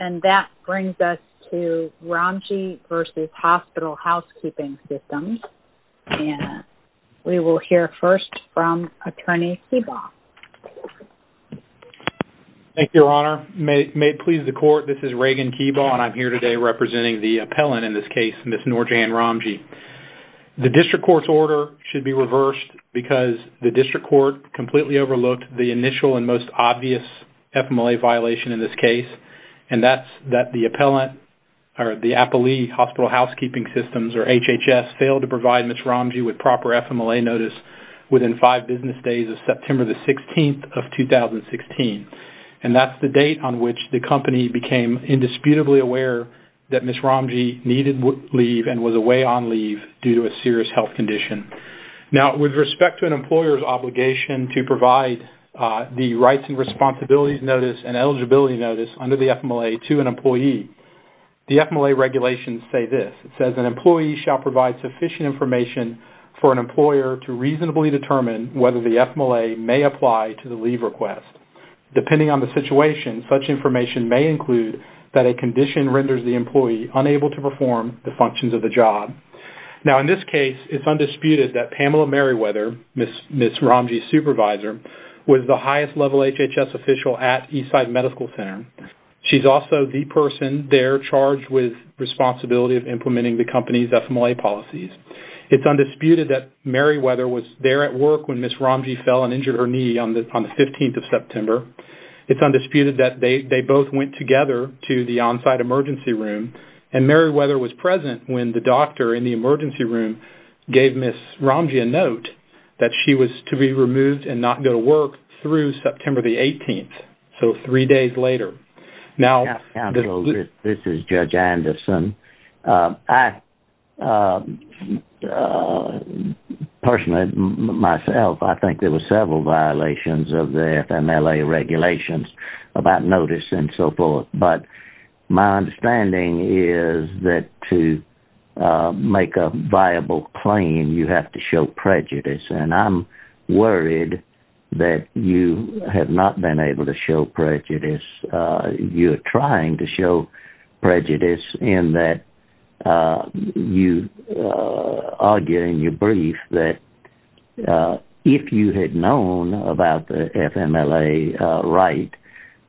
And that brings us to Ramji v. Hospital Housekeeping Systems and we will hear first from Attorney Keebaugh. Thank you, Your Honor. May it please the court, this is Reagan Keebaugh and I'm here today representing the appellant in this case, Ms. Noorjahan Ramji. The district court's order should be reversed because the district court completely overlooked the initial and most obvious FMLA violation in this case and that's that the appellant or the Appalee Hospital Housekeeping Systems or HHS failed to provide Ms. Ramji with proper FMLA notice within five business days of September the 16th of 2016 and that's the date on which the company became indisputably aware that Ms. Ramji needed leave and was away on leave due to a serious health condition. Now with respect to an employer's obligation to provide the rights and responsibilities notice and eligibility notice under the FMLA to an employee, the FMLA regulations say this, it says an employee shall provide sufficient information for an employer to reasonably determine whether the FMLA may apply to the leave request. Depending on the situation, such information may include that a condition renders the employee unable to perform the functions of the job. Now in this case, it's undisputed that Pamela Merriweather, Ms. Ramji's supervisor, was the highest-level HHS official at Eastside Medical Center. She's also the person there charged with responsibility of implementing the company's FMLA policies. It's undisputed that Merriweather was there at work when Ms. Ramji fell and injured her knee on the 15th of September. It's undisputed that they both went together to the on-site emergency room and Merriweather was present when the doctor in the emergency room gave Ms. Ramji a note that she was to be removed and not go to work through September the 18th, so three days later. This is Judge Anderson. Personally, myself, I think there were several violations of the FMLA regulations about notice and so forth, but my most reliable claim, you have to show prejudice, and I'm worried that you have not been able to show prejudice. You're trying to show prejudice in that you argue in your brief that if you had known about the FMLA right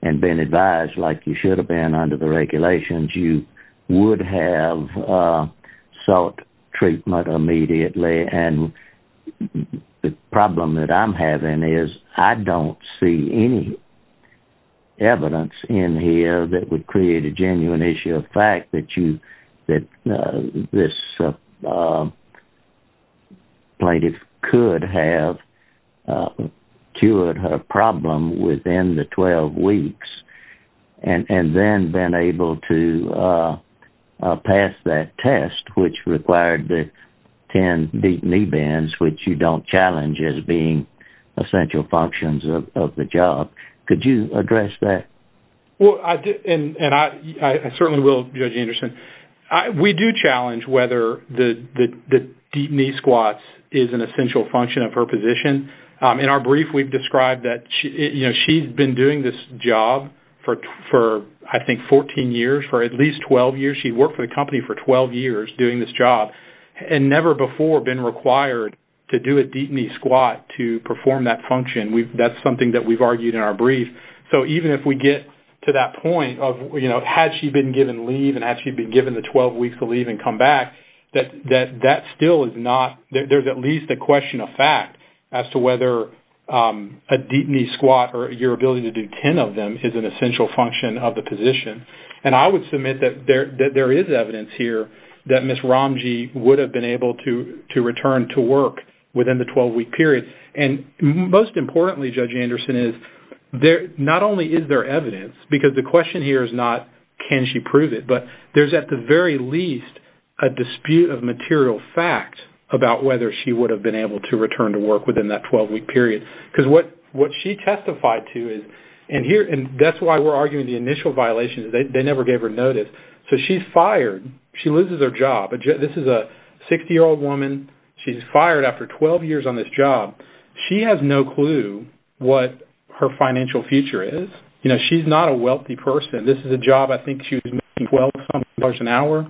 and been advised like you should have been under the regulations, you would have sought treatment immediately, and the problem that I'm having is I don't see any evidence in here that would create a genuine issue of fact that this plaintiff could have cured her problem within the 12 weeks and then been able to pass that test, which required the 10 deep knee bends, which you don't challenge as being essential functions of the job. Could you address that? Well, and I certainly will, Judge Anderson. We do challenge whether the deep knee squats is an essential function of her position. In our brief, we've described that she's been doing this job for I think 14 years, for at least 12 years. She worked for the company for 12 years doing this job and never before been required to do a deep knee squat to perform that function. That's something that we've argued in our brief. So even if we get to that point of has she been given leave and has she been given the 12 weeks of leave and come back, that still is not, there's at least a question of fact as to whether a deep knee squat or your ability to do 10 of them is an essential function of the position. And I would submit that there is evidence here that Ms. Ramji would have been able to return to work within the 12-week period. And most importantly, Judge Anderson, is not only is there evidence, because the question here is not can she prove it, but there's at the very least a dispute of material fact about whether she would have been able to return to work within the 12-week period. Because what she testified to is, and that's why we're arguing the initial violation is they never gave her notice. So she's fired. She loses her job. This is a 60-year-old woman. She's fired after 12 years on this job. She has no clue what her financial future is. She's not a wealthy person. This is a job I think she was making $12,000 an hour.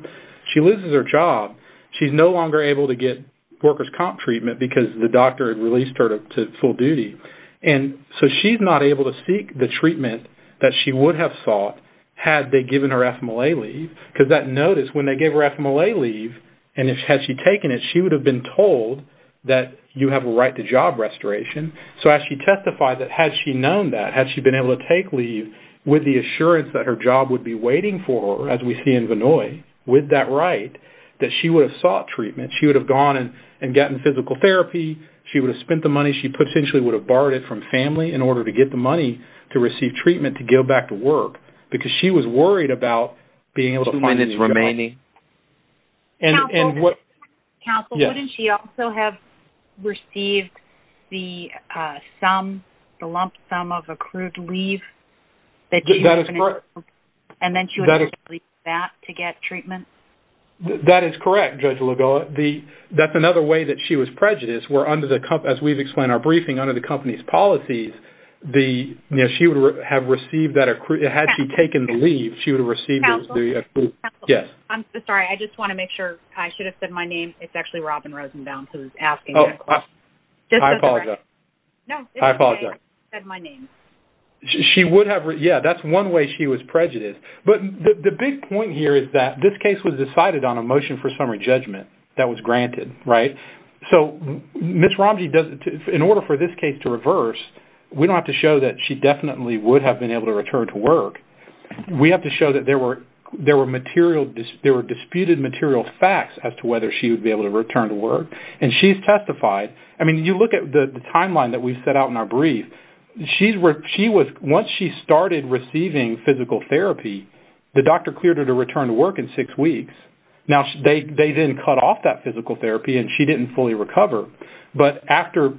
She loses her job. She's no longer able to get workers' comp treatment because the doctor had released her to full duty. And so she's not able to seek the treatment that she would have sought had they given her FMLA leave. Because that notice, when they gave her FMLA leave, and had she taken it, she would have been told that you have a right to job restoration. So as she testified, has she known that? Has she been able to take leave with the assurance that her job would be waiting for her, as we see in Vinoy, with that right, that she would have sought treatment? She would have gone and gotten physical therapy. She would have spent the money. She potentially would have borrowed it from family in order to get the money to receive treatment to go back to work because she was worried about being able to find a job. Council, wouldn't she also have received the lump sum of accrued leave? That is correct. And then she would have to leave that to get treatment? That is correct, Judge Lugoa. That's another way that she was prejudiced, where under the, as we've explained in our briefing, under the company's policies, she would have received that accrued, had she taken the leave, she would have received the accrued, yes. Council, I'm sorry. I just want to make sure. I should have said my name. It's actually Robin Rosenbaum who's asking that question. I apologize. No. I apologize. I'm sorry. I should have said my name. She would have. Yeah, that's one way she was prejudiced. But the big point here is that this case was decided on a motion for summary judgment that was granted, right? So Ms. Romji, in order for this case to reverse, we don't have to show that she definitely would have been able to return to work. We have to show that there were material, there were disputed material facts as to whether she would be able to return to work. And she's testified. I mean, you look at the timeline that we've set out in our brief. Once she started receiving physical therapy, the doctor cleared her to return to work in six weeks. Now, they then cut off that physical therapy, and she didn't fully recover. But after,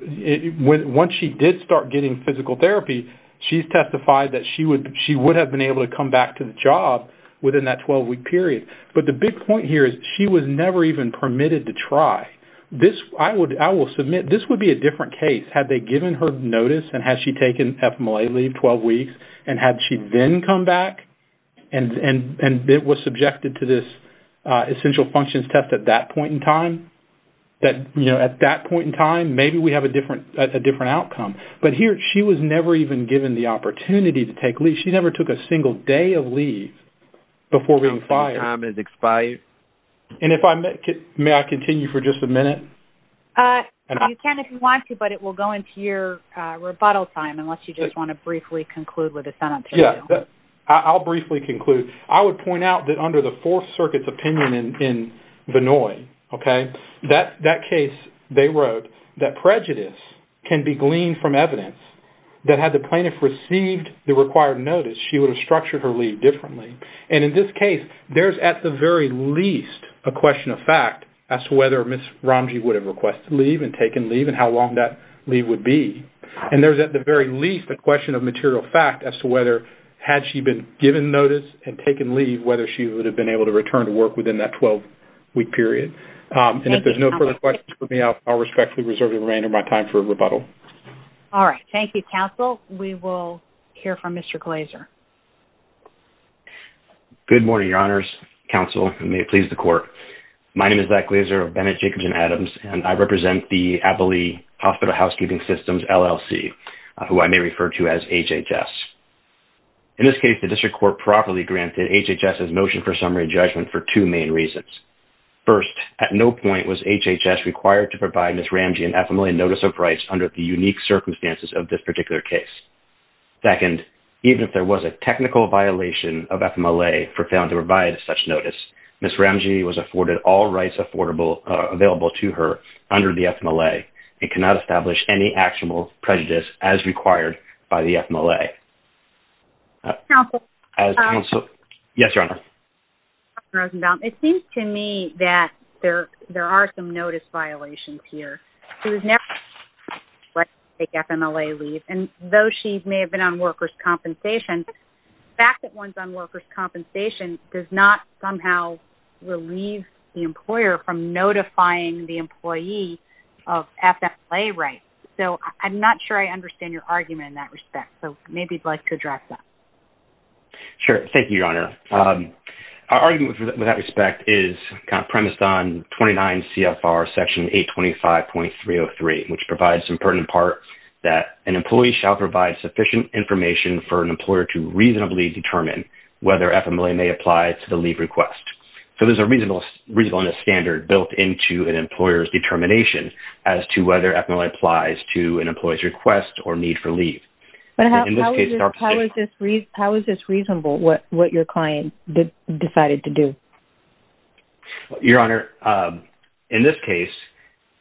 once she did start getting physical therapy, she's testified that she would have been able to come back to the job within that 12-week period. But the big point here is she was never even permitted to try. This, I will submit, this would be a different case. Had they given her notice, and had she taken FMLA leave 12 weeks, and had she then come back and was subjected to this essential functions test at that point in time, that, you know, at that point in time, maybe we have a different outcome. But here, she was never even given the opportunity to take leave. She never took a single day of leave before being fired. Time has expired. Thank you. And if I may, may I continue for just a minute? You can if you want to, but it will go into your rebuttal time, unless you just want to briefly conclude with a sentence. Yeah. I'll briefly conclude. I would point out that under the Fourth Circuit's opinion in Vannoy, okay, that case they wrote that prejudice can be gleaned from evidence that had the plaintiff received the required notice, she would have structured her leave differently. And in this case, there's at the very least a question of fact as to whether Ms. Ramji would have requested leave and taken leave and how long that leave would be. And there's at the very least a question of material fact as to whether had she been given notice and taken leave, whether she would have been able to return to work within that 12-week period. And if there's no further questions for me, I'll respectfully reserve the remainder of my time for rebuttal. All right. Thank you, counsel. We will hear from Mr. Glazer. Good morning, Your Honors, counsel, and may it please the court. My name is Zach Glazer of Bennett, Jacobs, and Adams, and I represent the Abilene Hospital Housekeeping Systems, LLC, who I may refer to as HHS. In this case, the district court properly granted HHS's motion for summary judgment for two main reasons. First, at no point was HHS required to provide Ms. Ramji an ephemeral notice of rights under the unique circumstances of this particular case. Second, even if there was a technical violation of FMLA for failing to provide such notice, Ms. Ramji was afforded all rights available to her under the FMLA and cannot establish any actionable prejudice as required by the FMLA. Yes, Your Honor. It seems to me that there are some notice violations here. She was never required to take FMLA leave, and though she may have been on workers' compensation, the fact that one's on workers' compensation does not somehow relieve the employer from notifying the employee of FMLA rights. So I'm not sure I understand your argument in that respect, so maybe you'd like to address that. Sure. Thank you, Your Honor. Our argument with that respect is premised on 29 CFR Section 825.303, which provides some pertinent parts that an employee shall provide sufficient information for an employer to reasonably determine whether FMLA may apply to the leave request. So there's a reasonableness standard built into an employer's determination as to whether FMLA applies to an employee's request or need for leave. But how is this reasonable, what your client decided to do? Your Honor, in this case,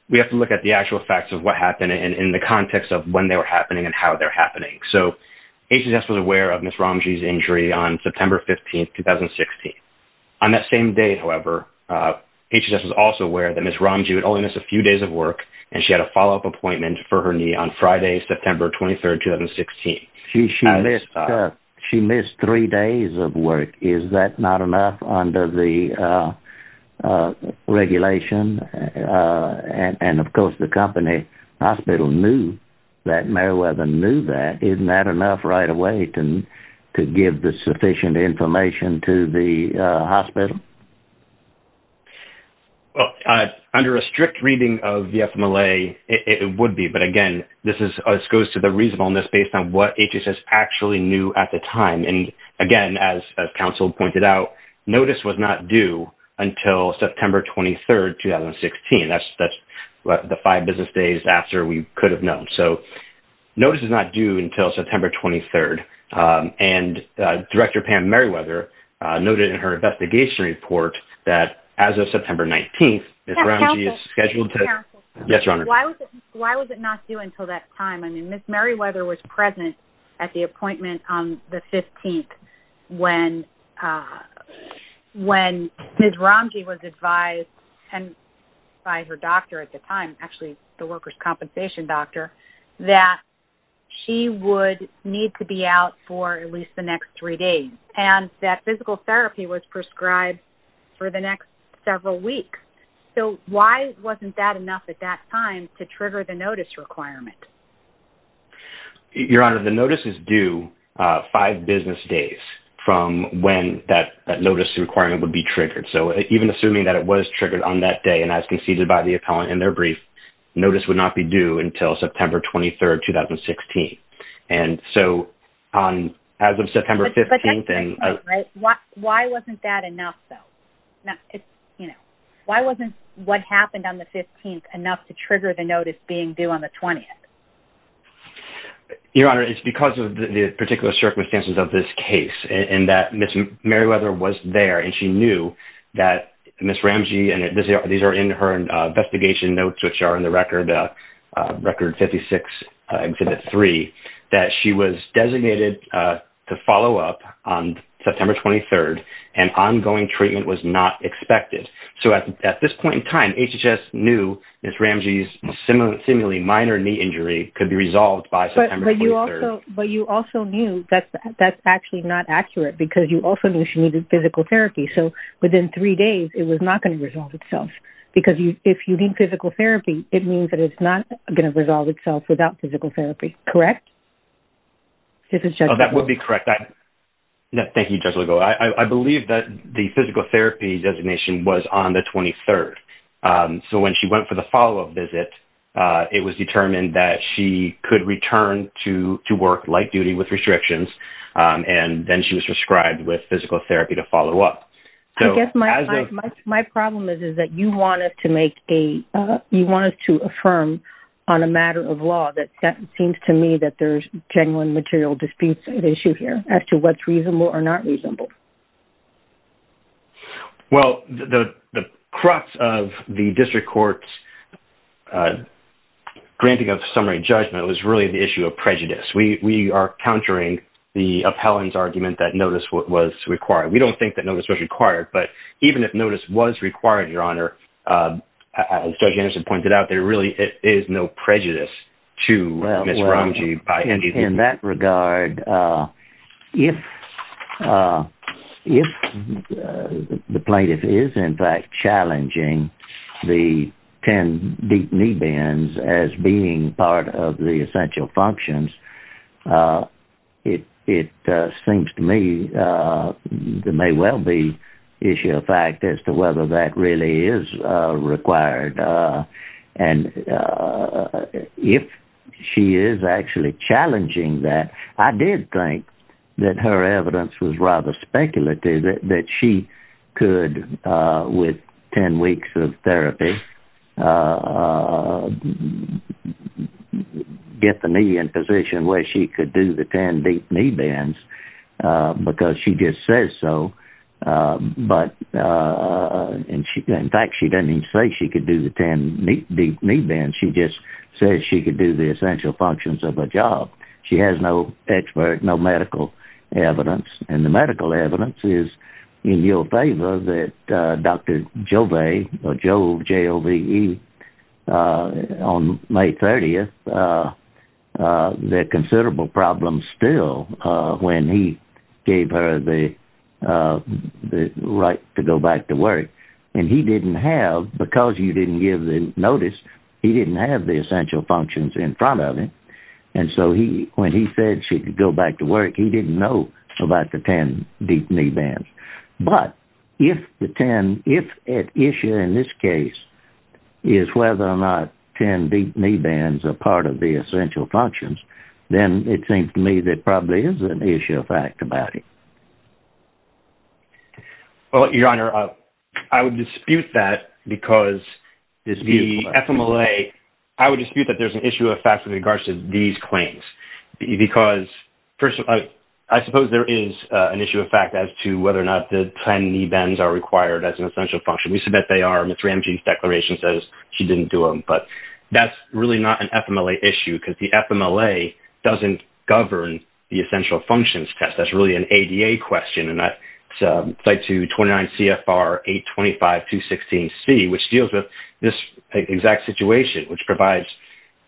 we have to look at the actual facts of what happened in the context of when they were happening and how they're happening. So HHS was aware of Ms. Ramji's injury on September 15, 2016. On that same day, however, HHS was also aware that Ms. Ramji would only miss a few days of work, and she had a follow-up appointment for her knee on Friday, September 23, 2016. She missed three days of work. Is that not enough under the regulation? And, of course, the company hospital knew that Meriwether knew that. Isn't that enough right away to give the sufficient information to the hospital? Well, under a strict reading of the FMLA, it would be. But, again, this goes to the reasonableness based on what HHS actually knew at the time. And, again, as counsel pointed out, notice was not due until September 23, 2016. That's the five business days after we could have known. So notice is not due until September 23. And Director Pam Meriwether noted in her investigation report that as of September 19, Ms. Ramji is scheduled to... It's not due until that time. I mean, Ms. Meriwether was present at the appointment on the 15th when Ms. Ramji was advised by her doctor at the time, actually the workers' compensation doctor, that she would need to be out for at least the next three days. And that physical therapy was prescribed for the next several weeks. So why wasn't that enough at that time to trigger the notice requirement? Your Honor, the notice is due five business days from when that notice requirement would be triggered. So even assuming that it was triggered on that day and as conceded by the appellant in their brief, notice would not be due until September 23, 2016. And so as of September 15... But that's the point, right? Why wasn't that enough, though? Why wasn't what happened on the 15th enough to trigger the notice being due on the 20th? Your Honor, it's because of the particular circumstances of this case and that Ms. Meriwether was there and she knew that Ms. Ramji... And these are in her investigation notes, which are in the Record 56, Exhibit 3, that she was designated to follow up on September 23rd and ongoing treatment was not expected. So at this point in time, HHS knew Ms. Ramji's seemingly minor knee injury could be resolved by September 23rd. But you also knew that that's actually not accurate because you also knew she needed physical therapy. So within three days, it was not going to resolve itself. Because if you need physical therapy, it means that it's not going to resolve itself without physical therapy, correct? Oh, that would be correct. Thank you, Judge Legault. I believe that the physical therapy designation was on the 23rd. So when she went for the follow-up visit, it was determined that she could return to work light duty with restrictions and then she was prescribed with physical therapy to follow up. I guess my problem is that you wanted to affirm on a matter of law that it seems to me that there's genuine material disputes at issue here as to what's reasonable or not reasonable. Well, the crux of the District Court's granting of summary judgment was really the issue of prejudice. We are countering the appellant's argument that notice was required. We don't think that notice was required, but even if notice was required, Your Honor, as Judge Anderson pointed out, there really is no prejudice to Ms. Romji. In that regard, if the plaintiff is in fact challenging the 10 deep knee bends as being part of the essential functions, it seems to me there may well be issue of fact as to whether that really is required. And if she is actually challenging that, I did think that her evidence was rather speculative that she could, with 10 weeks of therapy, get the knee in position where she could do the 10 deep knee bends because she just says so. In fact, she doesn't even say she could do the 10 deep knee bends. She just says she could do the essential functions of her job. She has no expert, no medical evidence, and the medical evidence is in your favor that Dr. Jove, J-O-V-E, on May 30th, there are considerable problems still when he gave her the right to go back to work. And he didn't have, because you didn't give the notice, he didn't have the essential functions in front of him. And so when he said she could go back to work, he didn't know about the 10 deep knee bends. But if the 10, if at issue in this case is whether or not 10 deep knee bends are part of the essential functions, then it seems to me there probably is an issue of fact about it. Well, Your Honor, I would dispute that because the FMLA, I would dispute that there's an issue of fact with regards to these claims because, first of all, I suppose there is an issue of fact as to whether or not the 10 knee bends are required as an essential function. We submit they are. Ms. Ramji's declaration says she didn't do them. But that's really not an FMLA issue because the FMLA doesn't govern the essential functions test. That's really an ADA question. And that's slide 229 CFR 825216C, which deals with this exact situation, which provides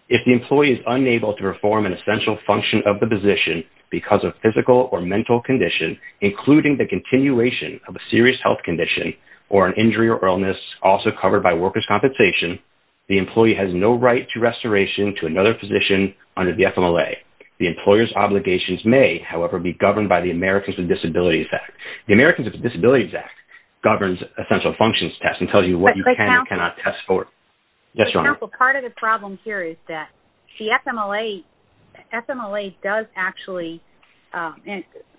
if the employee is unable to perform an essential function of the position because of physical or mental condition, including the continuation of a serious health condition or an injury or illness also covered by workers' compensation, the employee has no right to restoration to another physician under the FMLA. The employer's obligations may, however, be governed by the Americans with Disabilities Act. The Americans with Disabilities Act governs essential functions test Yes, Your Honor. For example, part of the problem here is that the FMLA does actually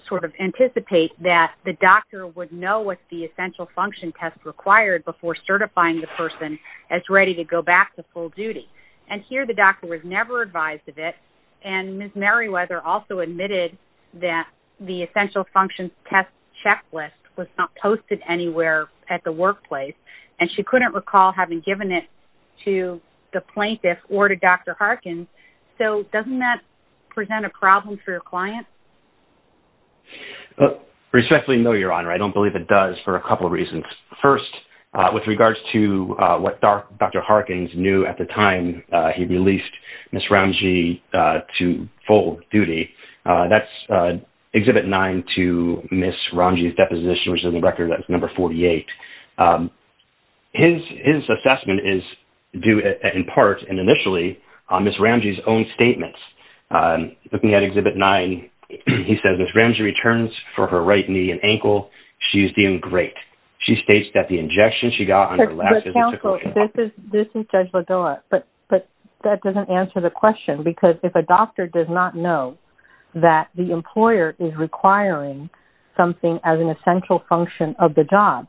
sort of anticipate that the doctor would know what the essential function test required before certifying the person as ready to go back to full duty. And here the doctor was never advised of it. And Ms. Merriweather also admitted that the essential function test checklist was not posted anywhere at the workplace. And she couldn't recall having given it to the plaintiff or to Dr. Harkins. So doesn't that present a problem for your client? Respectfully, no, Your Honor. I don't believe it does for a couple of reasons. First, with regards to what Dr. Harkins knew at the time he released Ms. Ramji to full duty, which is on the record as number 48, his assessment is due in part and initially on Ms. Ramji's own statements. Looking at Exhibit 9, he says, Ms. Ramji returns for her right knee and ankle. She is doing great. She states that the injection she got on her left is the essential function test. But counsel, this is Judge Lagoa, but that doesn't answer the question. Because if a doctor does not know that the employer is requiring something as an essential function of the job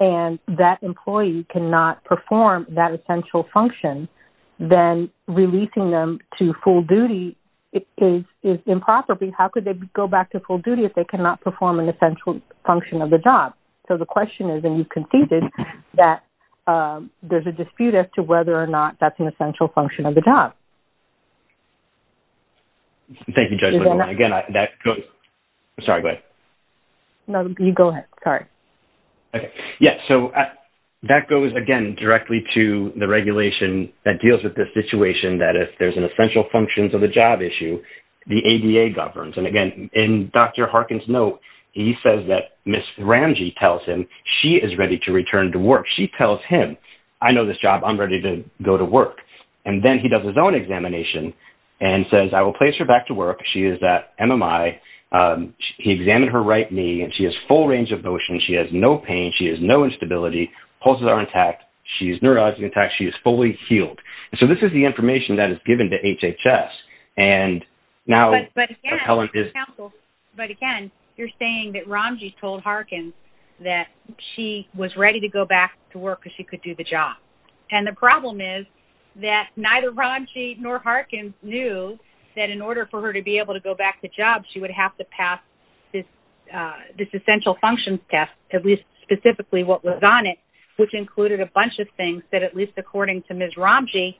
and that employee cannot perform that essential function, then releasing them to full duty is improper. How could they go back to full duty if they cannot perform an essential function of the job? So the question is, and you've conceded, that there's a dispute as to whether or not that's an essential function of the job. Thank you, Judge Lagoa. Sorry, go ahead. No, you go ahead. Sorry. Okay. Yeah, so that goes, again, directly to the regulation that deals with the situation that if there's an essential function of the job issue, the ADA governs. And, again, in Dr. Harkin's note, he says that Ms. Ramji tells him she is ready to return to work. She tells him, I know this job. I'm ready to go to work. And then he does his own examination and says, I will place her back to work. She is at MMI. He examined her right knee, and she has full range of motion. She has no pain. She has no instability. Pulses are intact. She is neurologically intact. She is fully healed. So this is the information that is given to HHS. But, again, you're saying that Ramji told Harkin that she was ready to go back to work because she could do the job. And the problem is that neither Ramji nor Harkin knew that in order for her to be able to go back to job, she would have to pass this essential functions test, at least specifically what was on it, which included a bunch of things that, at least according to Ms. Ramji,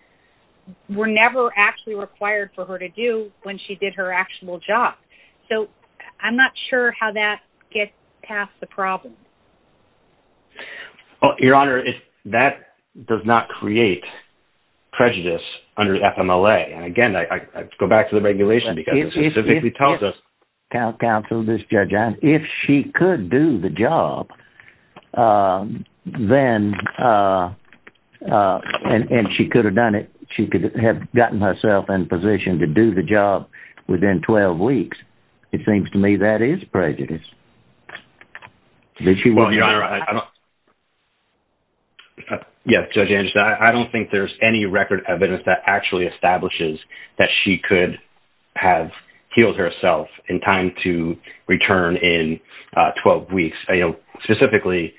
were never actually required for her to do when she did her actual job. So I'm not sure how that gets past the problem. Well, Your Honor, that does not create prejudice under FMLA. And, again, I go back to the regulation because it specifically tells us. If she could do the job, and she could have done it, she could have gotten herself in position to do the job within 12 weeks. It seems to me that is prejudice. Well, Your Honor, I don't think there's any record evidence that actually establishes that she could have healed herself in time to return in 12 weeks. Specifically,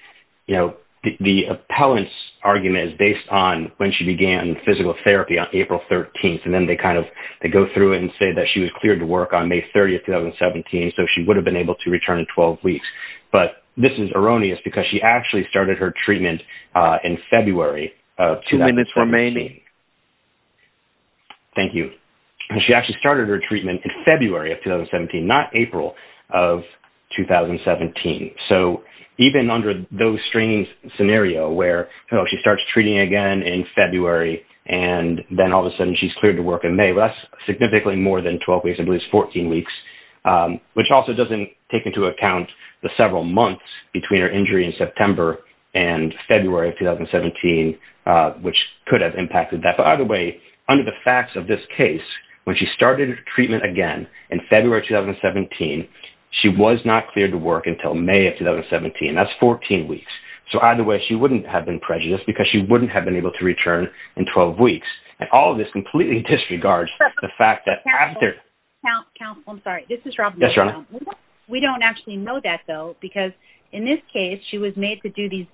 the appellant's argument is based on when she began physical therapy on April 13th. And then they kind of go through it and say that she was cleared to work on May 30th, 2017. So she would have been able to return in 12 weeks. But this is erroneous because she actually started her treatment in February of 2017. Two minutes remaining. Thank you. She actually started her treatment in February of 2017, not April of 2017. So even under those strange scenarios where she starts treating again in February, that's significantly more than 12 weeks, I believe it's 14 weeks, which also doesn't take into account the several months between her injury in September and February of 2017, which could have impacted that. But either way, under the facts of this case, when she started her treatment again in February of 2017, she was not cleared to work until May of 2017. That's 14 weeks. So either way, she wouldn't have been prejudiced because she wouldn't have been able to return in 12 weeks. And all of this completely disregards the fact that after... Counsel, I'm sorry. This is Robin. Yes, Your Honor. We don't actually know that, though, because in this case, she was made to do these,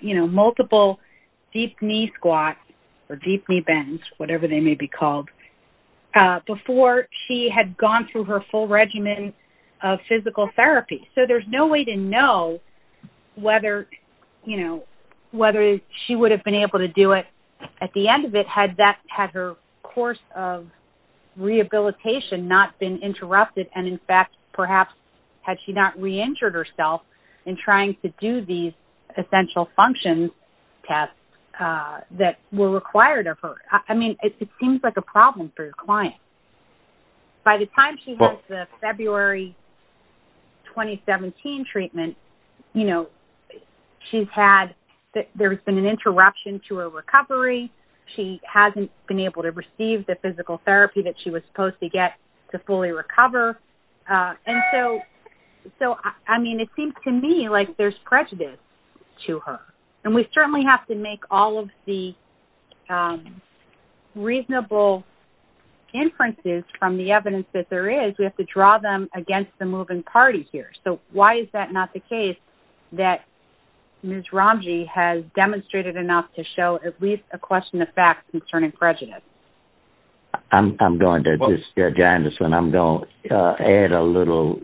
you know, multiple deep knee squats or deep knee bends, whatever they may be called, before she had gone through her full regimen of physical therapy. So there's no way to know whether, you know, whether she would have been able to do it at the end of it had that, had her course of rehabilitation not been interrupted and, in fact, perhaps had she not re-injured herself in trying to do these essential functions tests that were required of her. I mean, it seems like a problem for your client. By the time she has the February 2017 treatment, you know, she's had, there's been an interruption to her recovery. She hasn't been able to receive the physical therapy that she was supposed to get to fully recover. And so, I mean, it seems to me like there's prejudice to her. And we certainly have to make all of the reasonable inferences from the evidence that there is. We have to draw them against the moving party here. So why is that not the case that Ms. Ramji has demonstrated enough to show at least a question of fact concerning prejudice? I'm going to just, Janice, and I'm going to add a little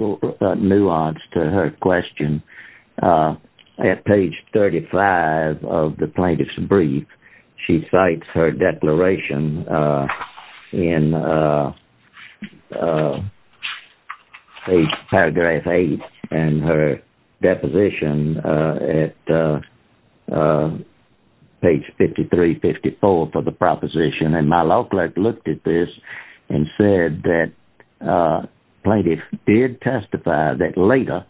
nuance to her question. At page 35 of the plaintiff's brief, she cites her declaration in paragraph 8 and her deposition at page 53, 54 for the proposition. And my law clerk looked at this and said that plaintiff did testify that later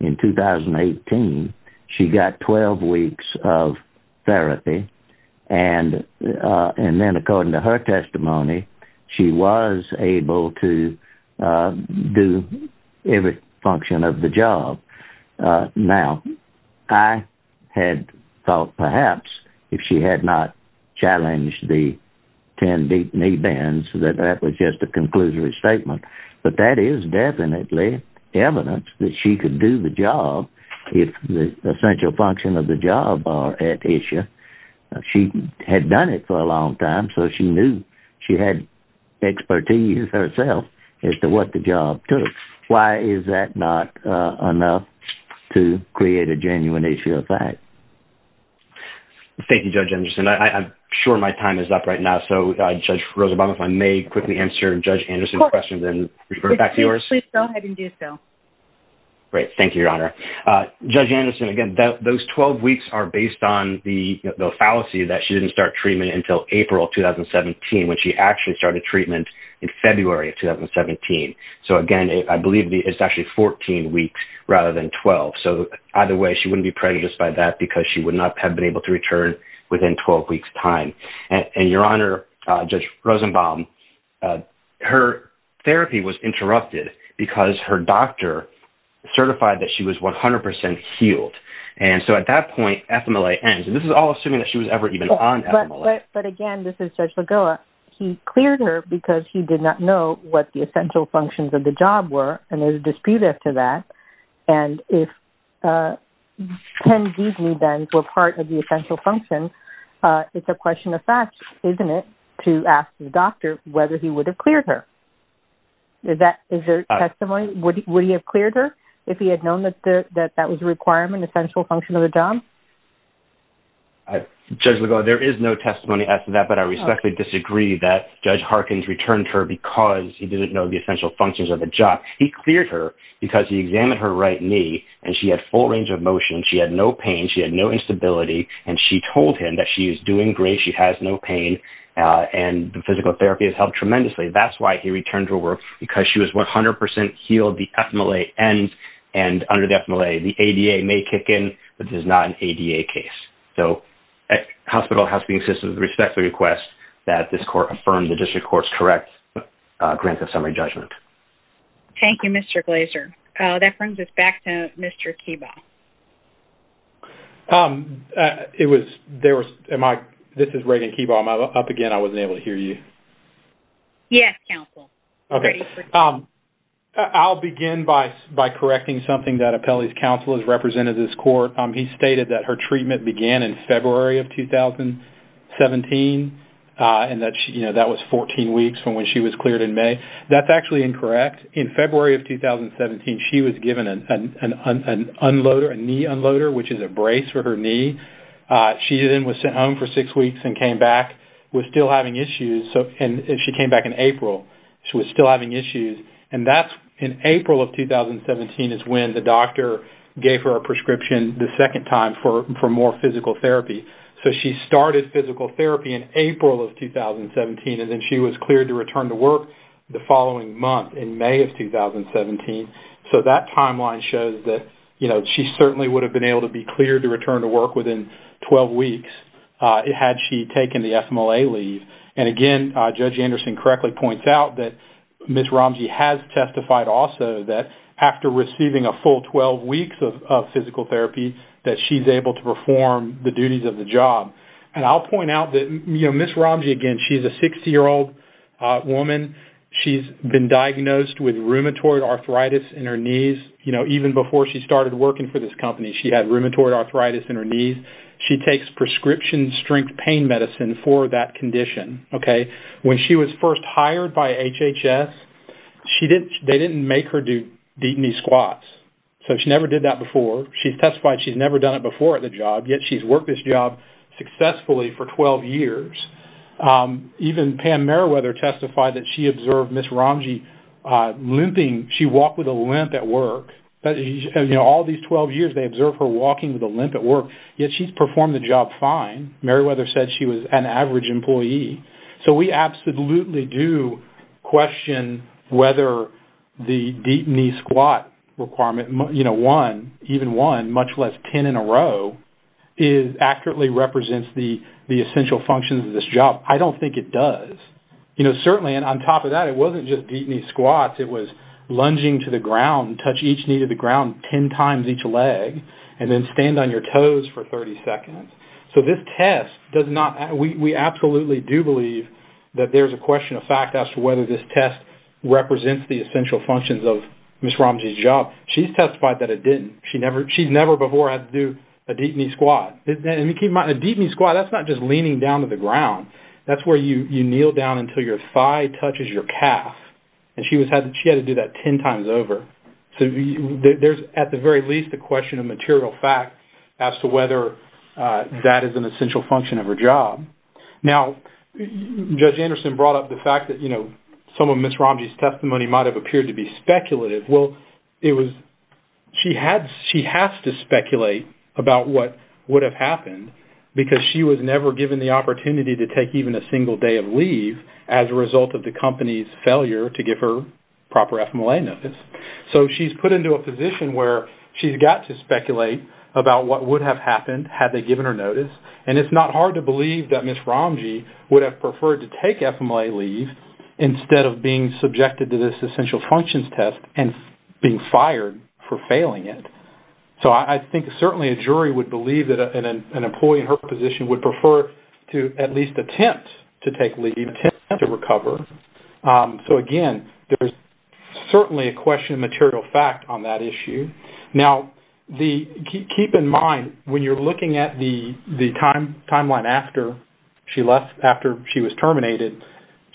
in 2018, she got 12 weeks of therapy. And then according to her testimony, she was able to do every function of the job. Now, I had thought perhaps if she had not challenged the 10 deep knee bends that that was just a conclusory statement. But that is definitely evidence that she could do the job if the essential function of the job are at issue. She had done it for a long time, so she knew she had expertise herself as to what the job took. Why is that not enough to create a genuine issue of fact? Thank you, Judge Anderson. I'm sure my time is up right now, so Judge Rosenbaum, if I may quickly answer Judge Anderson's questions and refer back to yours. Please go ahead and do so. Great. Thank you, Your Honor. Judge Anderson, again, those 12 weeks are based on the fallacy that she didn't start treatment until April 2017, when she actually started treatment in February of 2017. So, again, I believe it's actually 14 weeks rather than 12. So either way, she wouldn't be pregnant just by that because she would not have been able to return within 12 weeks time. And Your Honor, Judge Rosenbaum, her therapy was interrupted because her doctor certified that she was 100 percent healed. And so at that point, FMLA ends. And this is all assuming that she was ever even on FMLA. But again, this is Judge Lagoa. He cleared her because he did not know what the essential functions of the job were, and there was a dispute after that. And if 10 Gs, then, were part of the essential function, it's a question of fact, isn't it, to ask the doctor whether he would have cleared her? Is there testimony? Would he have cleared her if he had known that that was a requirement, essential function of the job? Judge Lagoa, there is no testimony after that, but I respectfully disagree that Judge Harkins returned her because he didn't know the essential functions of the job. He cleared her because he examined her right knee, and she had full range of motion. She had no pain. She had no instability. And she told him that she is doing great. She has no pain. And the physical therapy has helped tremendously. That's why he returned her work, because she was 100 percent healed. The FMLA ends. And under the FMLA, the ADA may kick in, but this is not an ADA case. So, the hospital has to be consistent with the respectful request that this court affirm the district court's correct grant of summary judgment. Thank you, Mr. Glazer. That brings us back to Mr. Keebaugh. This is Reagan Keebaugh. Am I up again? I wasn't able to hear you. Yes, counsel. Okay. I'll begin by correcting something that Apelli's counsel has represented this court. He stated that her treatment began in February of 2017, and that was 14 weeks from when she was cleared in May. That's actually incorrect. In February of 2017, she was given an unloader, a knee unloader, which is a brace for her knee. She then was sent home for six weeks and came back with still having issues. And she came back in April. She was still having issues. And that's in April of 2017 is when the doctor gave her a prescription the second time for more physical therapy. So, she started physical therapy in April of 2017, and then she was cleared to return to work the following month in May of 2017. So, that timeline shows that, you know, she certainly would have been able to be cleared to return to work within 12 weeks had she taken the FMLA leave. And, again, Judge Anderson correctly points out that Ms. Ramji has testified also that, after receiving a full 12 weeks of physical therapy, that she's able to perform the duties of the job. And I'll point out that, you know, Ms. Ramji, again, she's a 60-year-old woman. She's been diagnosed with rheumatoid arthritis in her knees. You know, even before she started working for this company, she had rheumatoid arthritis in her knees. And she takes prescription-strength pain medicine for that condition. Okay? When she was first hired by HHS, they didn't make her do deep knee squats. So, she never did that before. She testified she's never done it before at the job, yet she's worked this job successfully for 12 years. Even Pam Merriweather testified that she observed Ms. Ramji limping. She walked with a limp at work. You know, all these 12 years, they observed her walking with a limp at work, yet she's performed the job fine. Merriweather said she was an average employee. So, we absolutely do question whether the deep knee squat requirement, you know, one, even one, much less 10 in a row, accurately represents the essential functions of this job. I don't think it does. You know, certainly, and on top of that, it wasn't just deep knee squats. It was lunging to the ground, touch each knee to the ground 10 times each leg, and then stand on your toes for 30 seconds. So, this test does not, we absolutely do believe that there's a question of fact as to whether this test represents the essential functions of Ms. Ramji's job. She's testified that it didn't. She's never before had to do a deep knee squat. And keep in mind, a deep knee squat, that's not just leaning down to the ground. That's where you kneel down until your thigh touches your calf. And she had to do that 10 times over. So, there's, at the very least, a question of material fact as to whether that is an essential function of her job. Now, Judge Anderson brought up the fact that, you know, some of Ms. Ramji's testimony might have appeared to be speculative. Well, it was, she has to speculate about what would have happened because she was never given the opportunity to take even a single day of leave as a result of the company's failure to give her proper FMLA notice. So, she's put into a position where she's got to speculate about what would have happened had they given her notice. And it's not hard to believe that Ms. Ramji would have preferred to take FMLA leave instead of being subjected to this essential functions test and being fired for failing it. So, I think certainly a jury would believe that an employee in her position would prefer to at least attempt to take leave, attempt to recover. So, again, there's certainly a question of material fact on that issue. Now, keep in mind, when you're looking at the timeline after she was terminated,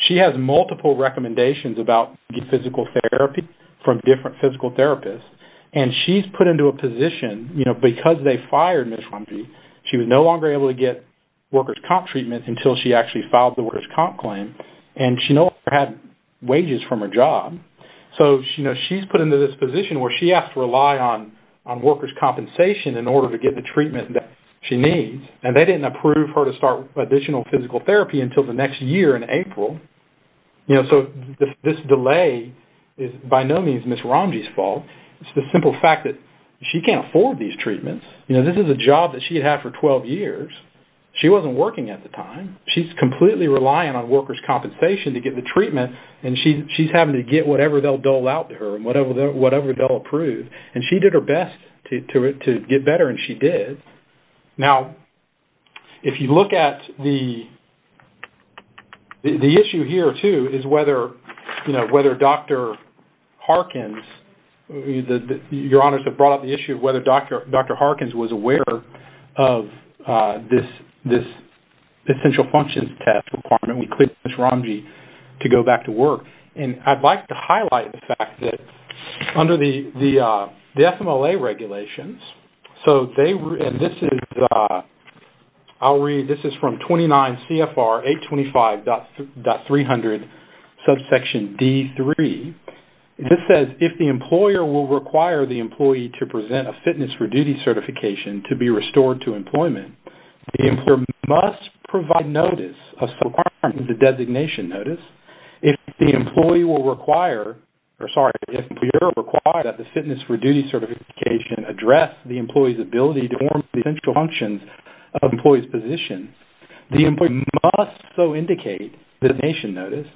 she has multiple recommendations about getting physical therapy from different physical therapists. And she's put into a position, you know, because they fired Ms. Ramji, she was no longer able to get workers' comp treatment until she actually filed the workers' comp claim. And she no longer had wages from her job. So, you know, she's put into this position where she has to rely on workers' compensation in order to get the treatment that she needs. And they didn't approve her to start additional physical therapy until the next year in April. You know, so this delay is by no means Ms. Ramji's fault. It's the simple fact that she can't afford these treatments. You know, this is a job that she had had for 12 years. She wasn't working at the time. She's completely relying on workers' compensation to get the treatment, and she's having to get whatever they'll dole out to her and whatever they'll approve. And she did her best to get better, and she did. Now, if you look at the issue here, too, is whether, you know, whether Dr. Harkins, your honors have brought up the issue of whether Dr. Harkins was aware of this essential functions test requirement. We cleared Ms. Ramji to go back to work. And I'd like to highlight the fact that under the FMLA regulations, so they – and this is – I'll read. This is from 29 CFR 825.300, subsection D3. This says, if the employer will require the employee to present a fitness for duty certification to be restored to employment, the employer must provide notice of some requirement of the designation notice. If the employee will require – or, sorry, if the employer will require that the fitness for duty certification address the employee's ability to perform the essential functions of the employee's position, the employee must so indicate designation notice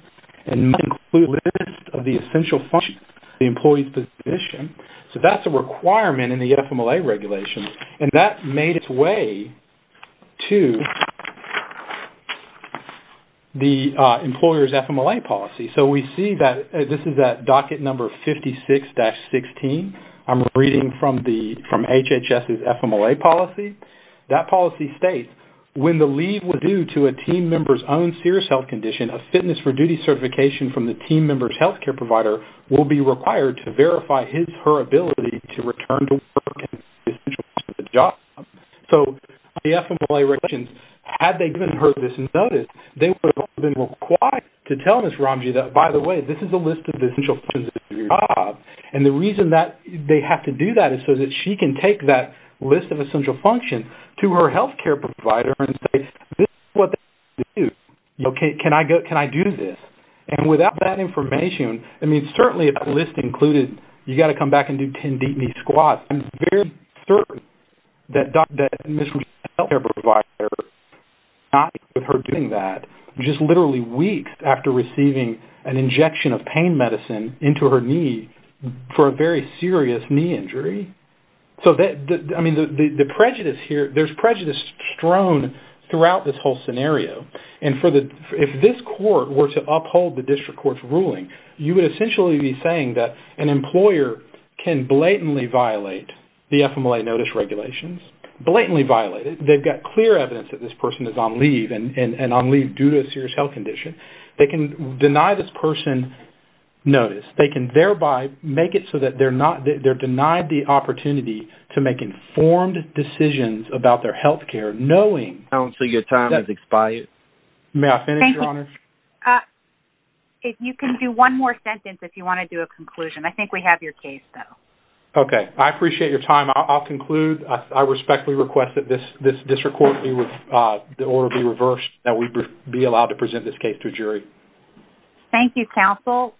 and must include a list of the essential functions of the employee's position. So that's a requirement in the FMLA regulation. And that made its way to the employer's FMLA policy. So we see that – this is at docket number 56-16. I'm reading from the – from HHS's FMLA policy. That policy states, when the leave was due to a team member's own serious health condition, a fitness for duty certification from the team member's health care provider will be required to verify his or her ability to return to work and the essential functions of the job. So under the FMLA regulations, had they given her this notice, they would have been required to tell Ms. Ramji that, by the way, this is a list of the essential functions of your job. And the reason that they have to do that is so that she can take that list of essential functions to her health care provider and say, this is what they need to do. Okay, can I go – can I do this? And without that information, I mean, certainly if the list included you've got to come back and do 10 deep knee squats, I'm very certain that Ms. Ramji's health care provider is not happy with her doing that just literally weeks after receiving an injection of pain medicine into her knee for a very serious knee injury. So that – I mean, the prejudice here – there's prejudice strewn throughout this whole scenario. And for the – if this court were to uphold the district court's ruling, you would essentially be saying that an employer can blatantly violate the FMLA notice regulations, blatantly violate it. They've got clear evidence that this person is on leave and on leave due to a serious health condition. They can deny this person notice. They can thereby make it so that they're not – they're denied the opportunity to make informed decisions about their health care, knowing – May I finish, Your Honor? Thank you. You can do one more sentence if you want to do a conclusion. I think we have your case, though. Okay. I appreciate your time. I'll conclude. I respectfully request that this district court be – or be reversed, that we be allowed to present this case to a jury. Thank you, counsel.